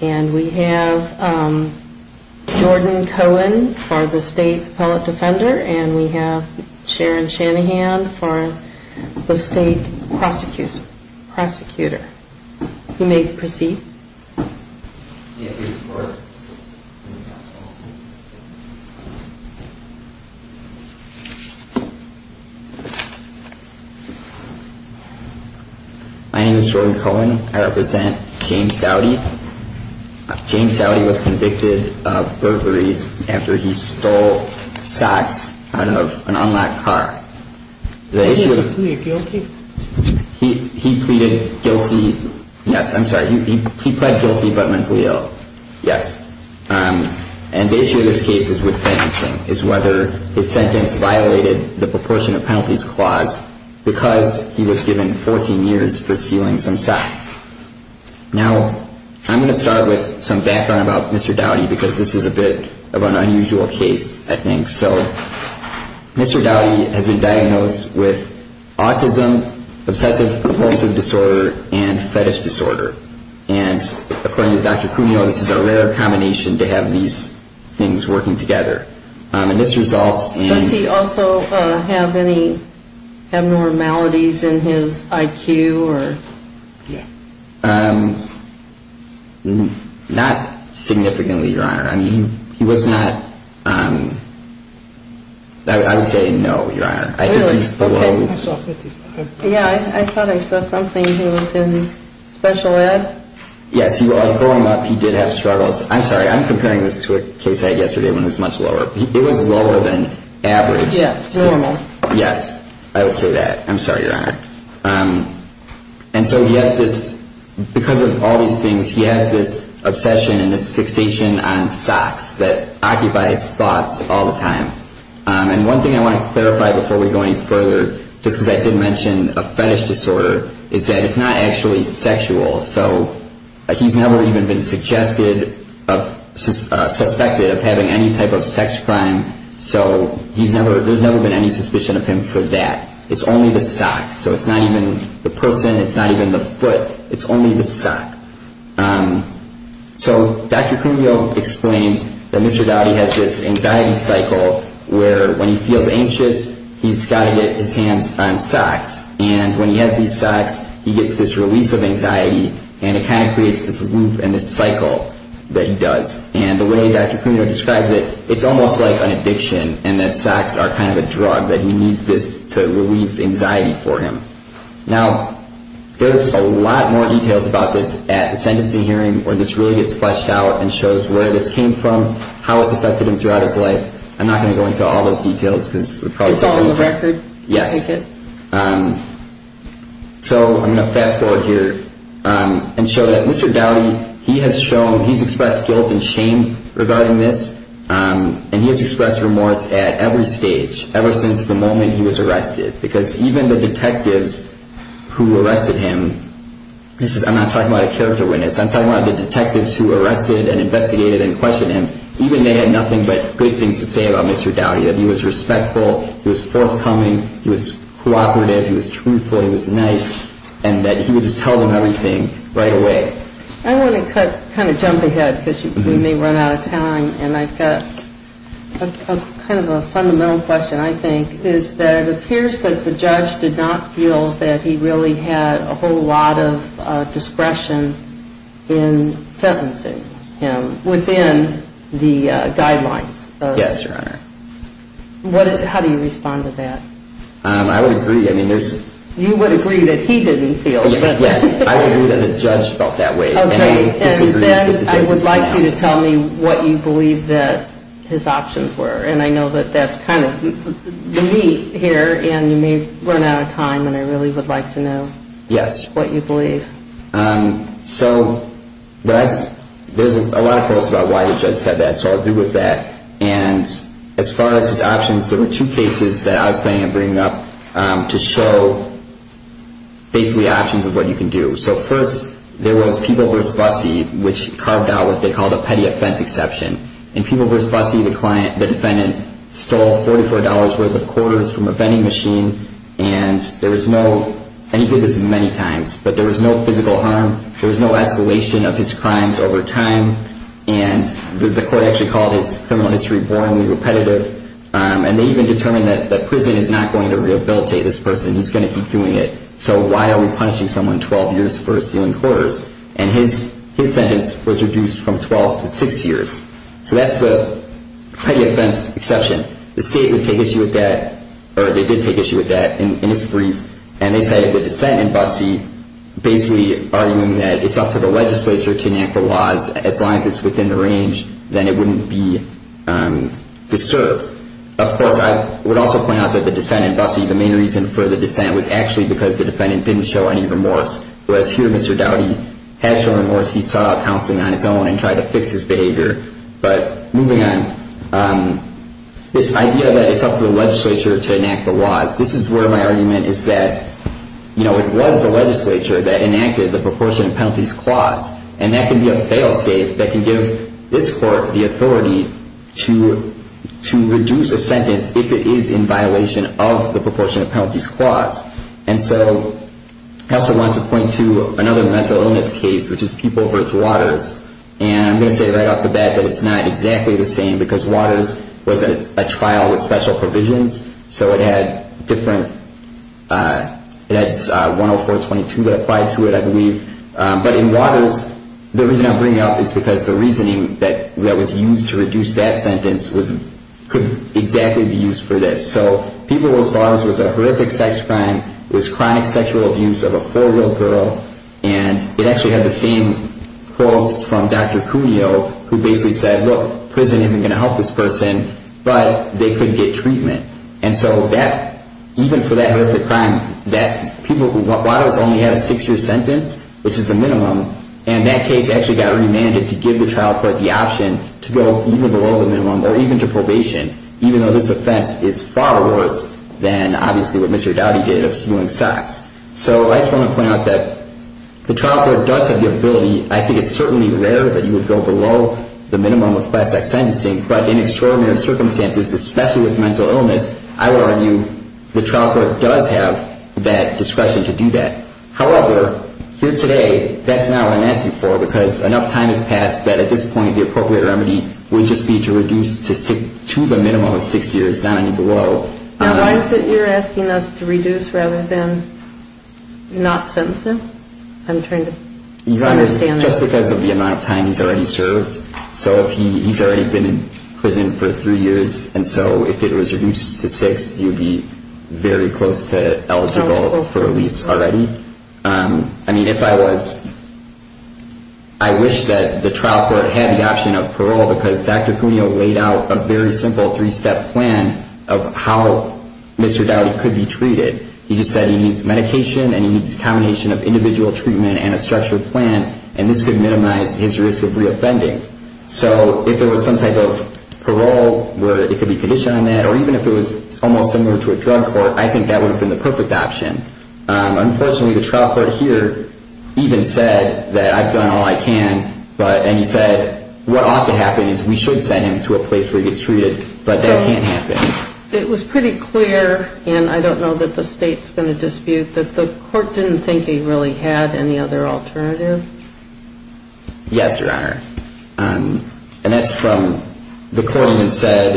and we have Jordan Cohen for the State Appellate Defender and we have Sharon Shanahan for the State Prosecutor. You may proceed. My name is Jordan Cohen. I represent James Dowdy. James Dowdy was convicted of burglary after he stole socks out of an unlocked car. He pleaded guilty. Yes, I'm sorry. He pled guilty but mentally ill. Yes. And the issue of this case is with sentencing, is whether his sentence violated the proportion of penalties clause because he was given 14 years for stealing some socks. Now I'm going to start with some background about Mr. Dowdy because this is a bit of an unusual case, I think. So Mr. Dowdy has been diagnosed with autism, obsessive compulsive disorder and fetish disorder. And according to Dr. Cuneo, this is a rare combination to have these things working together. And this results in... Does he also have any abnormalities in his IQ or? Not significantly, Your Honor. I mean, he was not... I would say no, Your Honor. I think he's below... Yeah, I thought I saw something. He was in special ed. Yes, well, I throw him up. He did have struggles. I'm sorry, I'm comparing this to a case I had yesterday when it was much lower. It was lower than average. Yes, normal. Yes, I would say that. I'm sorry, Your Honor. And so he has this... Because of all these things, he has this obsession and this fixation on socks that occupies thoughts all the time. And one thing I want to clarify before we go any further, just because I did mention a fetish disorder, is that it's not actually sexual. So he's never even been suggested... Suspected of having any type of sex crime. So there's never been any suspicion of him for that. It's only the socks. So it's not even the person. It's not even the foot. It's only the sock. So Dr. Crumio explains that Mr. Dowdy has this anxiety cycle where when he feels anxious, he's got to get his hands on socks. And when he has these socks, he gets this release of anxiety, and it kind of creates this loop and this cycle that he does. And the way Dr. Crumio describes it, it's almost like an addiction, and that socks are kind of a drug, that he needs this to relieve anxiety for him. Now, there's a lot more details about this at the sentencing hearing, where this really gets fleshed out and shows where this came from, how it's affected him throughout his life. I'm not going to go into all those details, because it would probably take a long time. It's all on the record. Yes. Take it. So I'm going to fast forward here and show that Mr. Dowdy, he has shown, he's expressed guilt and shame regarding this, and he has expressed remorse at every stage, ever since the moment he was arrested, because even the detectives who arrested him, I'm not talking about a character witness. I'm talking about the detectives who arrested and investigated and questioned him. Even they had nothing but good things to say about Mr. Dowdy, that he was respectful, he was forthcoming, he was cooperative, he was truthful, he was nice, and that he would just tell them everything right away. I want to kind of jump ahead, because we may run out of time, and I've got kind of a fundamental question, I think, is that it appears that the judge did not feel that he really had a whole lot of discretion in sentencing him within the guidelines. Yes, Your Honor. How do you respond to that? I would agree. You would agree that he didn't feel that. Yes, I would agree that the judge felt that way. Okay, and then I would like you to tell me what you believe that his options were, and I know that that's kind of the meat here, and you may run out of time, and I really would like to know what you believe. Yes. So, there's a lot of quotes about why the judge said that, so I'll do with that. And as far as his options, there were two cases that I was planning on bringing up to show basically options of what you can do. So, first, there was Peeble v. Busse, which carved out what they called a petty offense exception. In Peeble v. Busse, the defendant stole $44 worth of quarters from a vending machine, and there was no, and he did this many times, but there was no physical harm, there was no escalation of his crimes over time, and the court actually called his criminal history boringly repetitive, and they even determined that prison is not going to rehabilitate this person. He's going to keep doing it, so why are we punishing someone 12 years for stealing quarters? And his sentence was reduced from 12 to 6 years. So, that's the petty offense exception. The state would take issue with that, or they did take issue with that in his brief, and they say the dissent in Busse basically arguing that it's up to the legislature to enact the laws. As long as it's within the range, then it wouldn't be disturbed. Of course, I would also point out that the dissent in Busse, the main reason for the dissent, was actually because the defendant didn't show any remorse. Whereas here, Mr. Dowdy has shown remorse. He sought out counseling on his own and tried to fix his behavior. But moving on, this idea that it's up to the legislature to enact the laws, this is where my argument is that it was the legislature that enacted the proportion of penalties clause. And that can be a fail-safe that can give this court the authority to reduce a sentence if it is in violation of the proportion of penalties clause. And so, I also wanted to point to another mental illness case, which is People v. Waters. And I'm going to say right off the bat that it's not exactly the same, because Waters was a trial with special provisions. So it had different, it had 104.22 that applied to it, I believe. But in Waters, the reason I'm bringing it up is because the reasoning that was used to reduce that sentence could exactly be used for this. So People v. Waters was a horrific sex crime. It was chronic sexual abuse of a four-year-old girl. And it actually had the same clause from Dr. Cuneo, who basically said, look, prison isn't going to help this person, but they could get treatment. And so that, even for that horrific crime, that People v. Waters only had a six-year sentence, which is the minimum, and that case actually got remanded to give the trial court the option to go even below the minimum or even to probation, even though this offense is far worse than, obviously, what Mr. Doughty did of stealing socks. So I just want to point out that the trial court does have the ability, I think it's certainly rare that you would go below the minimum of plastic sentencing, but in extraordinary circumstances, especially with mental illness, I would argue the trial court does have that discretion to do that. However, here today, that's not what I'm asking for because enough time has passed that at this point the appropriate remedy would just be to reduce to the minimum of six years, not any below. Now, why is it you're asking us to reduce rather than not sentence him? I'm trying to understand that. Just because of the amount of time he's already served. So if he's already been in prison for three years, and so if it was reduced to six, he would be very close to eligible for release already. I mean, if I was, I wish that the trial court had the option of parole because Dr. Cuneo laid out a very simple three-step plan of how Mr. Doughty could be treated. He just said he needs medication and he needs a combination of individual treatment and a structured plan, and this could minimize his risk of reoffending. So if there was some type of parole where it could be conditioned on that, or even if it was almost similar to a drug court, I think that would have been the perfect option. Unfortunately, the trial court here even said that I've done all I can, and he said what ought to happen is we should send him to a place where he gets treated, but that can't happen. It was pretty clear, and I don't know that the state's going to dispute, that the court didn't think he really had any other alternative. Yes, Your Honor. And that's from the court that said,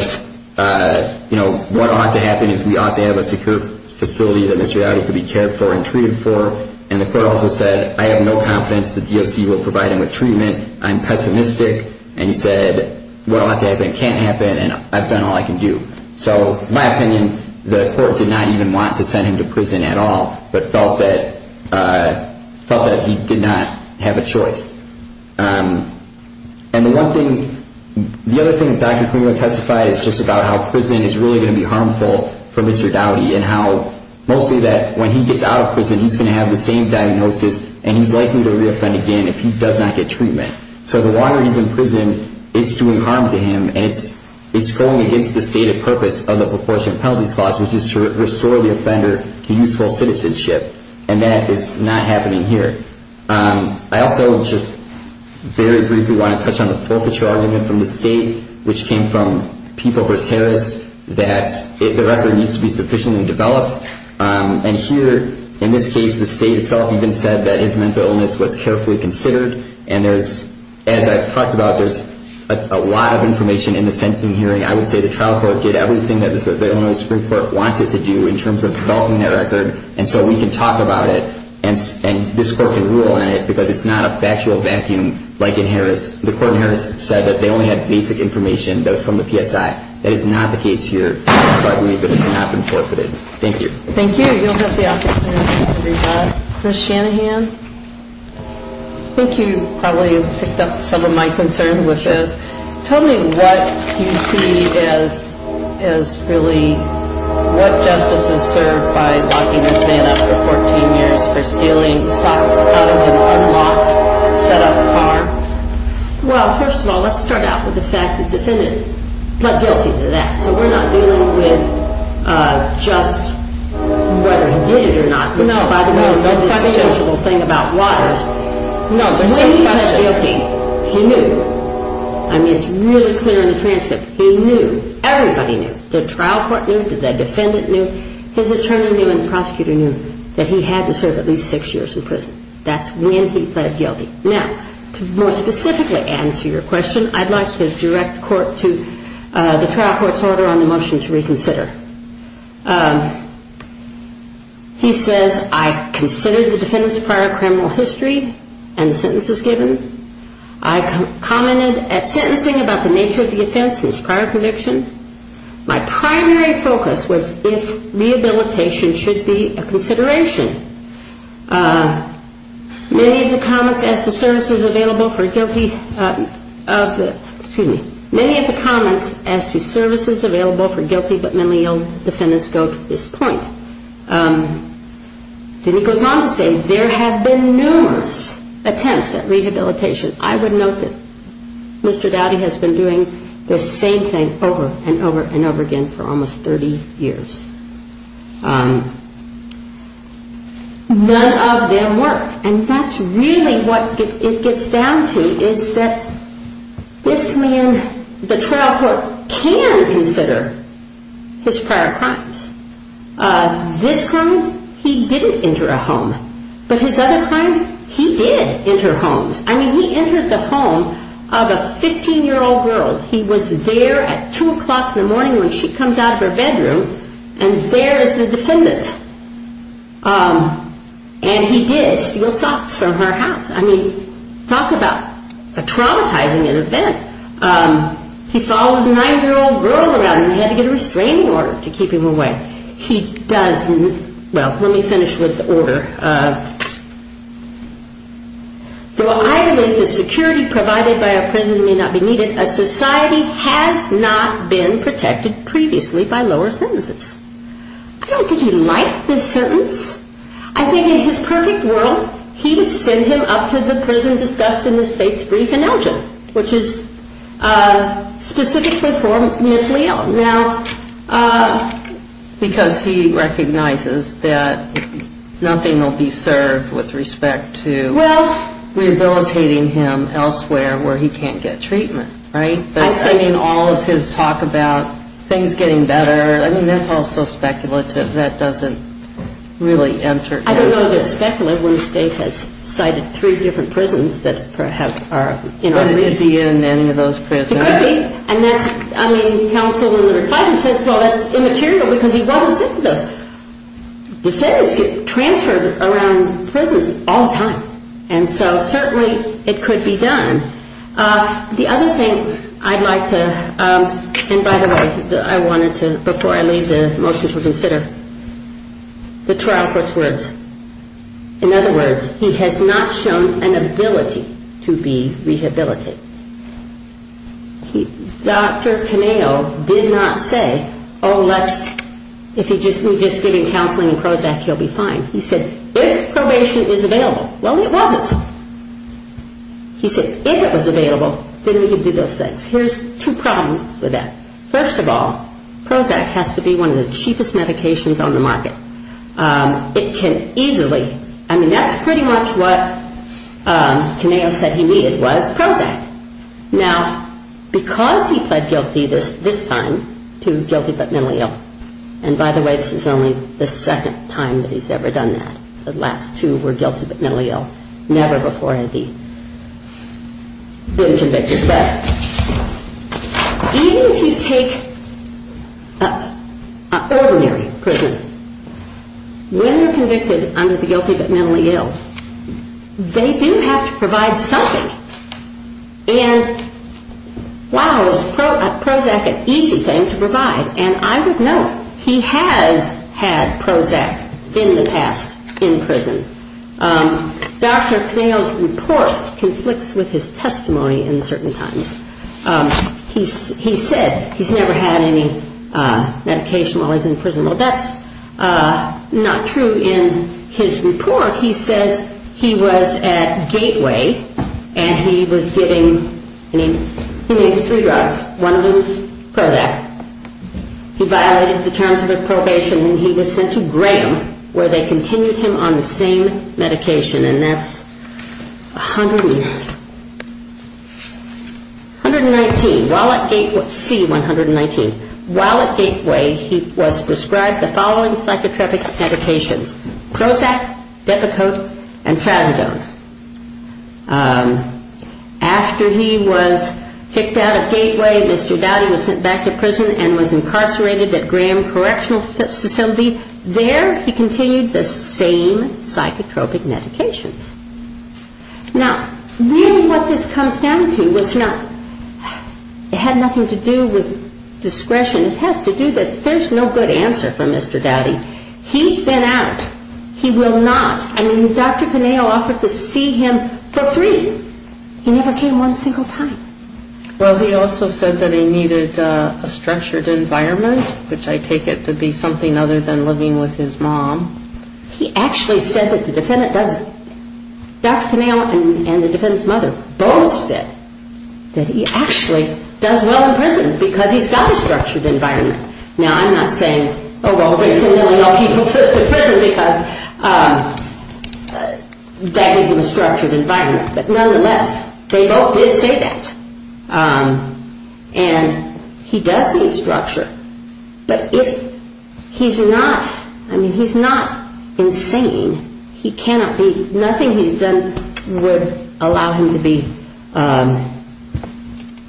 you know, what ought to happen is we ought to have a secure facility that Mr. Doughty could be cared for and treated for, and the court also said I have no confidence the DOC will provide him with treatment. I'm pessimistic, and he said what ought to happen can't happen, and I've done all I can do. So in my opinion, the court did not even want to send him to prison at all, but felt that he did not have a choice. And the one thing, the other thing that Dr. Klingler testified is just about how prison is really going to be harmful for Mr. Doughty and how mostly that when he gets out of prison, he's going to have the same diagnosis, and he's likely to reoffend again if he does not get treatment. So the longer he's in prison, it's doing harm to him, and it's going against the stated purpose of the proportionate penalties clause, which is to restore the offender to useful citizenship, and that is not happening here. I also just very briefly want to touch on the forfeiture argument from the state, which came from people versus Harris, that the record needs to be sufficiently developed. And here, in this case, the state itself even said that his mental illness was carefully considered, and there's, as I've talked about, there's a lot of information in the sentencing hearing. I would say the trial court did everything that the Illinois Supreme Court wants it to do in terms of developing that record, and so we can talk about it, and this court can rule on it because it's not a factual vacuum like in Harris. The court in Harris said that they only had basic information that was from the PSI. That is not the case here, so I believe it has not been forfeited. Thank you. Thank you. You'll have the opportunity to read that. Chris Shanahan, I think you probably picked up some of my concern with this. Tell me what you see as really what justice is served by locking this man up for 14 years for stealing socks out of an unlocked set-up bar. Well, first of all, let's start out with the fact that the defendant pled guilty to that, so we're not dealing with just whether he did it or not, which, by the way, is the dispensable thing about waters. No, there's no question. When he pled guilty, he knew. I mean, it's really clear in the transcript. He knew. Everybody knew. The trial court knew. The defendant knew. His attorney knew and the prosecutor knew that he had to serve at least six years in prison. That's when he pled guilty. Now, to more specifically answer your question, I'd like to direct the trial court's order on the motion to reconsider. He says, I considered the defendant's prior criminal history and sentences given. I commented at sentencing about the nature of the offense and his prior conviction. My primary focus was if rehabilitation should be a consideration. Many of the comments as to services available for guilty but mentally ill defendants go to this point. Then he goes on to say there have been numerous attempts at rehabilitation. I would note that Mr. Dowdy has been doing the same thing over and over and over again for almost 30 years. None of them worked. And that's really what it gets down to is that this man, the trial court can consider his prior crimes. This crime, he didn't enter a home. But his other crimes, he did enter homes. I mean, he entered the home of a 15-year-old girl. He was there at 2 o'clock in the morning when she comes out of her bedroom and there is the defendant. And he did steal socks from her house. I mean, talk about traumatizing an event. He followed a 9-year-old girl around and he had to get a restraining order to keep him away. Though I believe the security provided by a prison may not be needed, a society has not been protected previously by lower sentences. I don't think he liked this sentence. I think in his perfect world, he would send him up to the prison discussed in the state's brief announcement, which is specifically for mentally ill. Because he recognizes that nothing will be served with respect to rehabilitating him elsewhere where he can't get treatment, right? I mean, all of his talk about things getting better, I mean, that's all so speculative. That doesn't really enter into it. I don't know that it's speculative when the state has cited three different prisons that perhaps are... But is he in any of those prisons? And that's, I mean, counsel says, well, that's immaterial because he wasn't sent to those prisons. Defendants get transferred around prisons all the time. And so certainly it could be done. The other thing I'd like to... And by the way, I wanted to, before I leave, the motion to consider the trial court's words. In other words, he has not shown an ability to be rehabilitated. Dr. Caneo did not say, oh, let's... If we just give him counseling and Prozac, he'll be fine. He said, if probation is available. Well, it wasn't. He said, if it was available, then we could do those things. Here's two problems with that. First of all, Prozac has to be one of the cheapest medications on the market. It can easily... I mean, that's pretty much what Caneo said he needed was Prozac. Now, because he pled guilty this time to guilty but mentally ill, and by the way, this is only the second time that he's ever done that. The last two were guilty but mentally ill. Never before had he been convicted. But even if you take an ordinary prisoner, when they're convicted under the guilty but mentally ill, they do have to provide something. And, wow, is Prozac an easy thing to provide? And I would note, he has had Prozac in the past in prison. Dr. Caneo's report conflicts with his testimony in certain times. He said he's never had any medication while he was in prison. Well, that's not true in his report. In his report, he says he was at Gateway and he was giving three drugs. One of them was Prozac. He violated the terms of his probation and he was sent to Graham where they continued him on the same medication, and that's 119. C-119. While at Gateway, he was prescribed the following psychotropic medications. Prozac, Depakote, and Trazodone. After he was kicked out of Gateway, Mr. Doughty was sent back to prison and was incarcerated at Graham Correctional Facility. There he continued the same psychotropic medications. Now, really what this comes down to was not, it had nothing to do with discretion. It has to do that there's no good answer from Mr. Doughty. He's been out. He will not. I mean, Dr. Conejo offered to see him for free. He never came one single time. Well, he also said that he needed a structured environment, which I take it to be something other than living with his mom. He actually said that the defendant doesn't. Dr. Conejo and the defendant's mother both said that he actually does well in prison because he's got a structured environment. Now, I'm not saying, oh, well, we're going to send all these people to prison because that gives them a structured environment. But nonetheless, they both did say that. And he does need structure. But if he's not, I mean, he's not insane. He cannot be. Nothing he's done would allow him to be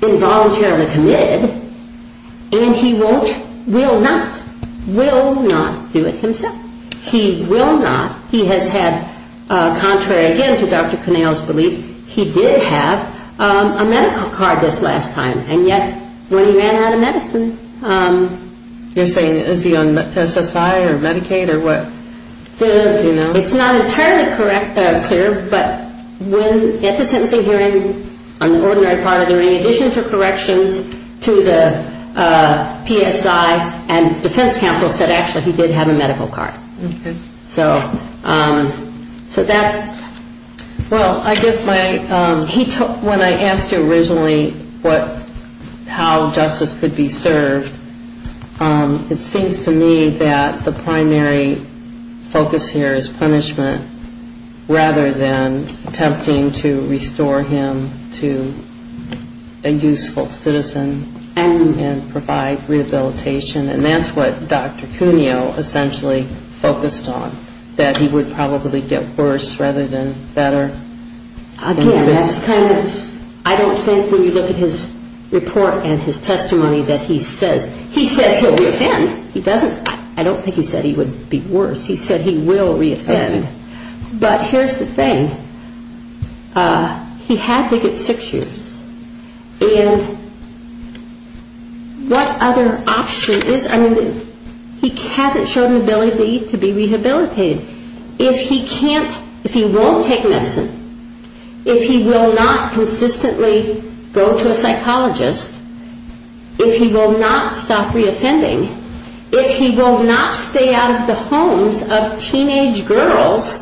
involuntarily committed. And he won't, will not, will not do it himself. He will not. He has had, contrary again to Dr. Conejo's belief, he did have a medical card this last time. And yet, when he ran out of medicine. You're saying is he on SSI or Medicaid or what? It's not entirely clear. But at the sentencing hearing, on the ordinary part of it, in addition to corrections to the PSI and defense counsel said actually he did have a medical card. Okay. So that's, well, I guess my, he, when I asked you originally what, how justice could be served, it seems to me that the primary focus here is punishment rather than attempting to restore him to a useful citizen and provide rehabilitation. And that's what Dr. Conejo essentially focused on, that he would probably get worse rather than better. Again, that's kind of, I don't think when you look at his report and his testimony that he says, he says he'll reoffend. He doesn't, I don't think he said he would be worse. He said he will reoffend. But here's the thing. He had to get six years. And what other option is, I mean, he hasn't shown an ability to be rehabilitated. If he can't, if he won't take medicine, if he will not consistently go to a psychologist, if he will not stop reoffending, if he will not stay out of the homes of teenage girls.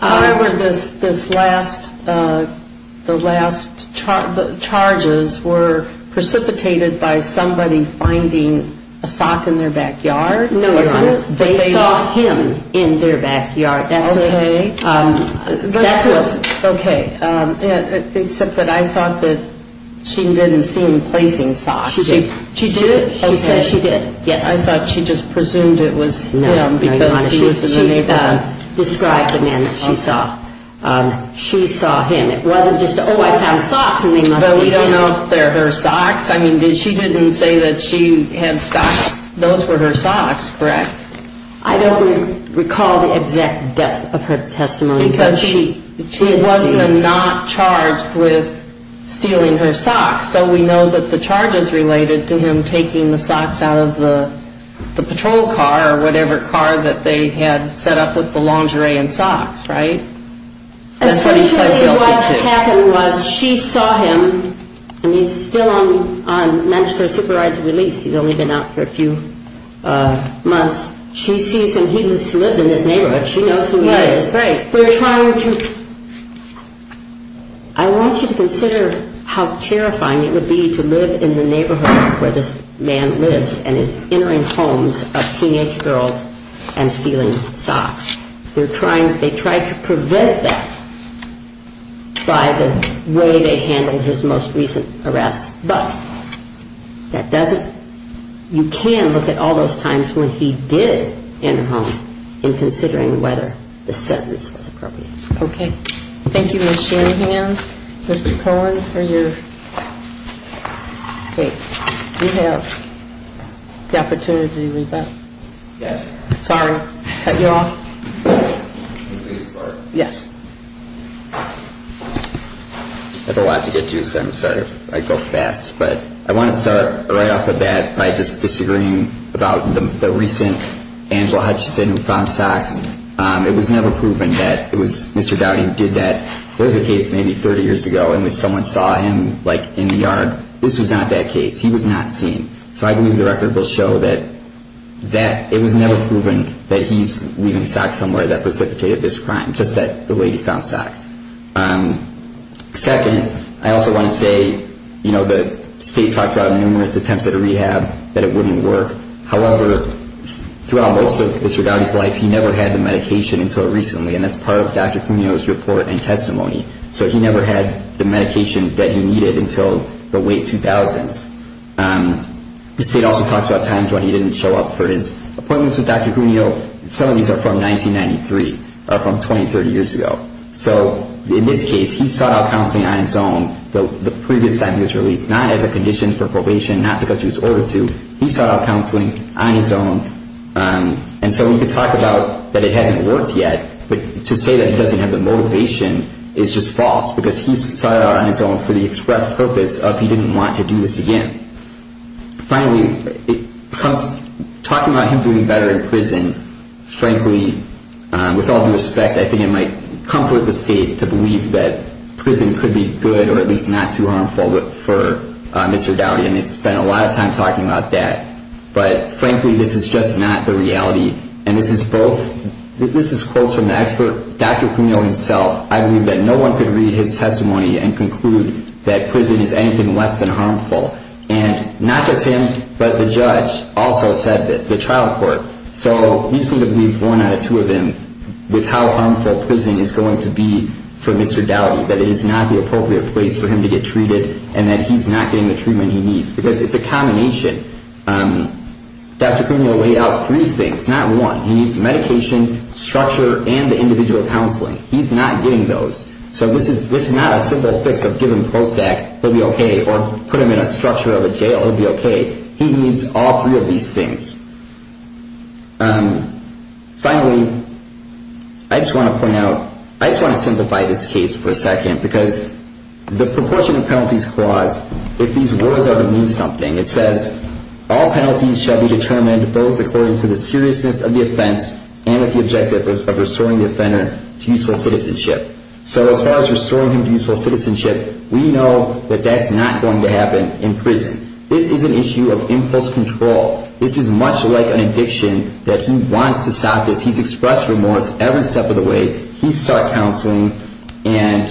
However, this last, the last charges were precipitated by somebody finding a sock in their backyard. No, Your Honor. They saw him in their backyard. Okay. That was, okay. Except that I thought that she didn't see him placing socks. She did. She did? Okay. She said she did. Yes. I thought she just presumed it was him. No, Your Honor. She described the man that she saw. She saw him. It wasn't just, oh, I found socks and they must be him. But we don't know if they're her socks. I mean, she didn't say that she had socks. Those were her socks, correct? I don't recall the exact depth of her testimony. Because she wasn't not charged with stealing her socks, so we know that the charge is related to him taking the socks out of the patrol car or whatever car that they had set up with the lingerie and socks, right? Essentially what happened was she saw him, and he's still on, on, for a few months. She sees him. He just lived in his neighborhood. She knows who he is. Right. They're trying to, I want you to consider how terrifying it would be to live in the neighborhood where this man lives and is entering homes of teenage girls and stealing socks. They're trying, they tried to prevent that by the way they handled his most recent arrest. But that doesn't, you can look at all those times when he did enter homes in considering whether the sentence was appropriate. Okay. Thank you, Ms. Shanahan, Mr. Cohen, for your, wait. Do you have the opportunity to read that? Yes. Sorry. Cut you off. Yes. I have a lot to get to, so I'm sorry if I go fast. But I want to start right off the bat by just disagreeing about the recent, Angela Hutchinson who found socks. It was never proven that it was Mr. Dowdy who did that. There was a case maybe 30 years ago in which someone saw him like in the yard. This was not that case. He was not seen. So I believe the record will show that it was never proven that he's leaving socks somewhere that precipitated this crime, just that the lady found socks. Second, I also want to say, you know, the state talked about numerous attempts at a rehab that it wouldn't work. However, throughout most of Mr. Dowdy's life, he never had the medication until recently, and that's part of Dr. Cuneo's report and testimony. So he never had the medication that he needed until the late 2000s. The state also talks about times when he didn't show up for his appointments with Dr. Cuneo. Some of these are from 1993 or from 20, 30 years ago. So in this case, he sought out counseling on his own the previous time he was released, not as a condition for probation, not because he was ordered to. He sought out counseling on his own. And so we could talk about that it hasn't worked yet, but to say that he doesn't have the motivation is just false because he sought it out on his own for the express purpose of he didn't want to do this again. And finally, talking about him doing better in prison, frankly, with all due respect, I think it might comfort the state to believe that prison could be good or at least not too harmful for Mr. Dowdy, and they spent a lot of time talking about that. But frankly, this is just not the reality. And this is quotes from the expert, Dr. Cuneo himself. I believe that no one could read his testimony and conclude that prison is anything less than harmful. And not just him, but the judge also said this, the trial court. So we seem to believe one out of two of them with how harmful prison is going to be for Mr. Dowdy, that it is not the appropriate place for him to get treated and that he's not getting the treatment he needs because it's a combination. Dr. Cuneo laid out three things, not one. He needs medication, structure, and the individual counseling. He's not getting those. So this is not a simple fix of give him POSAC, he'll be okay, or put him in a structure of a jail, he'll be okay. He needs all three of these things. Finally, I just want to point out, I just want to simplify this case for a second because the proportion of penalties clause, if these words ever mean something, it says all penalties shall be determined both according to the seriousness of the offense and with the objective of restoring the offender to useful citizenship. So as far as restoring him to useful citizenship, we know that that's not going to happen in prison. This is an issue of impulse control. This is much like an addiction that he wants to stop this. He's expressed remorse every step of the way. He's sought counseling, and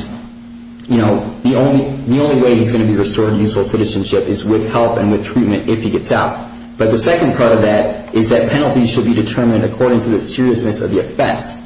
the only way he's going to be restored to useful citizenship is with help and with treatment if he gets out. But the second part of that is that penalties should be determined according to the seriousness of the offense.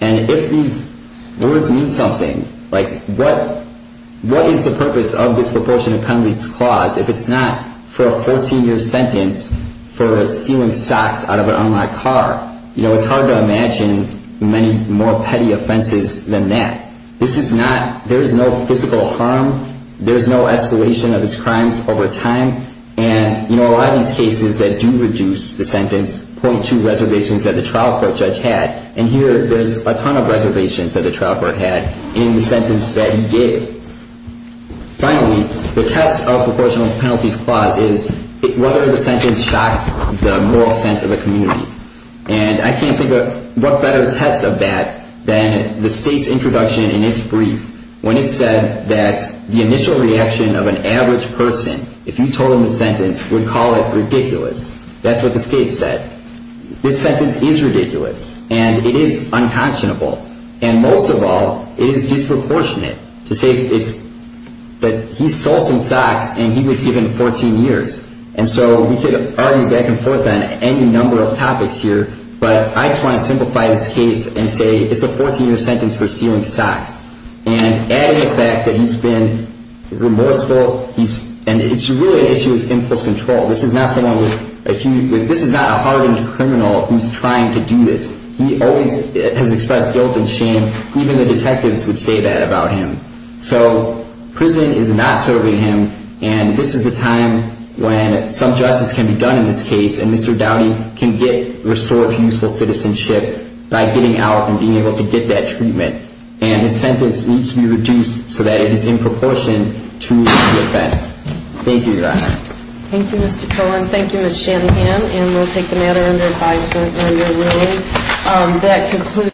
And if these words mean something, like what is the purpose of this proportion of penalties clause if it's not for a 14-year sentence for stealing socks out of an unlocked car? You know, it's hard to imagine many more petty offenses than that. This is not, there is no physical harm. There is no escalation of his crimes over time. And, you know, a lot of these cases that do reduce the sentence point to reservations that the trial court judge had. And here there's a ton of reservations that the trial court had in the sentence that he gave. Finally, the test of proportional penalties clause is whether the sentence shocks the moral sense of a community. And I can't think of what better test of that than the state's introduction in its brief when it said that the initial reaction of an average person, if you told them the sentence, would call it ridiculous. That's what the state said. This sentence is ridiculous and it is unconscionable. And most of all, it is disproportionate to say that he stole some socks and he was given 14 years. And so we could argue back and forth on any number of topics here, but I just want to simplify this case and say it's a 14-year sentence for stealing socks. And adding the fact that he's been remorseful, and it's really an issue of skinfulness control. This is not a hardened criminal who's trying to do this. He always has expressed guilt and shame. Even the detectives would say that about him. So prison is not serving him, and this is the time when some justice can be done in this case and Mr. Downey can get restored useful citizenship by getting out and being able to get that treatment. And his sentence needs to be reduced so that it is in proportion to the offense. Thank you, Your Honor. Thank you, Mr. Cohen. Thank you, Ms. Shanahan. And we'll take the matter under advisement when you're ready. That concludes.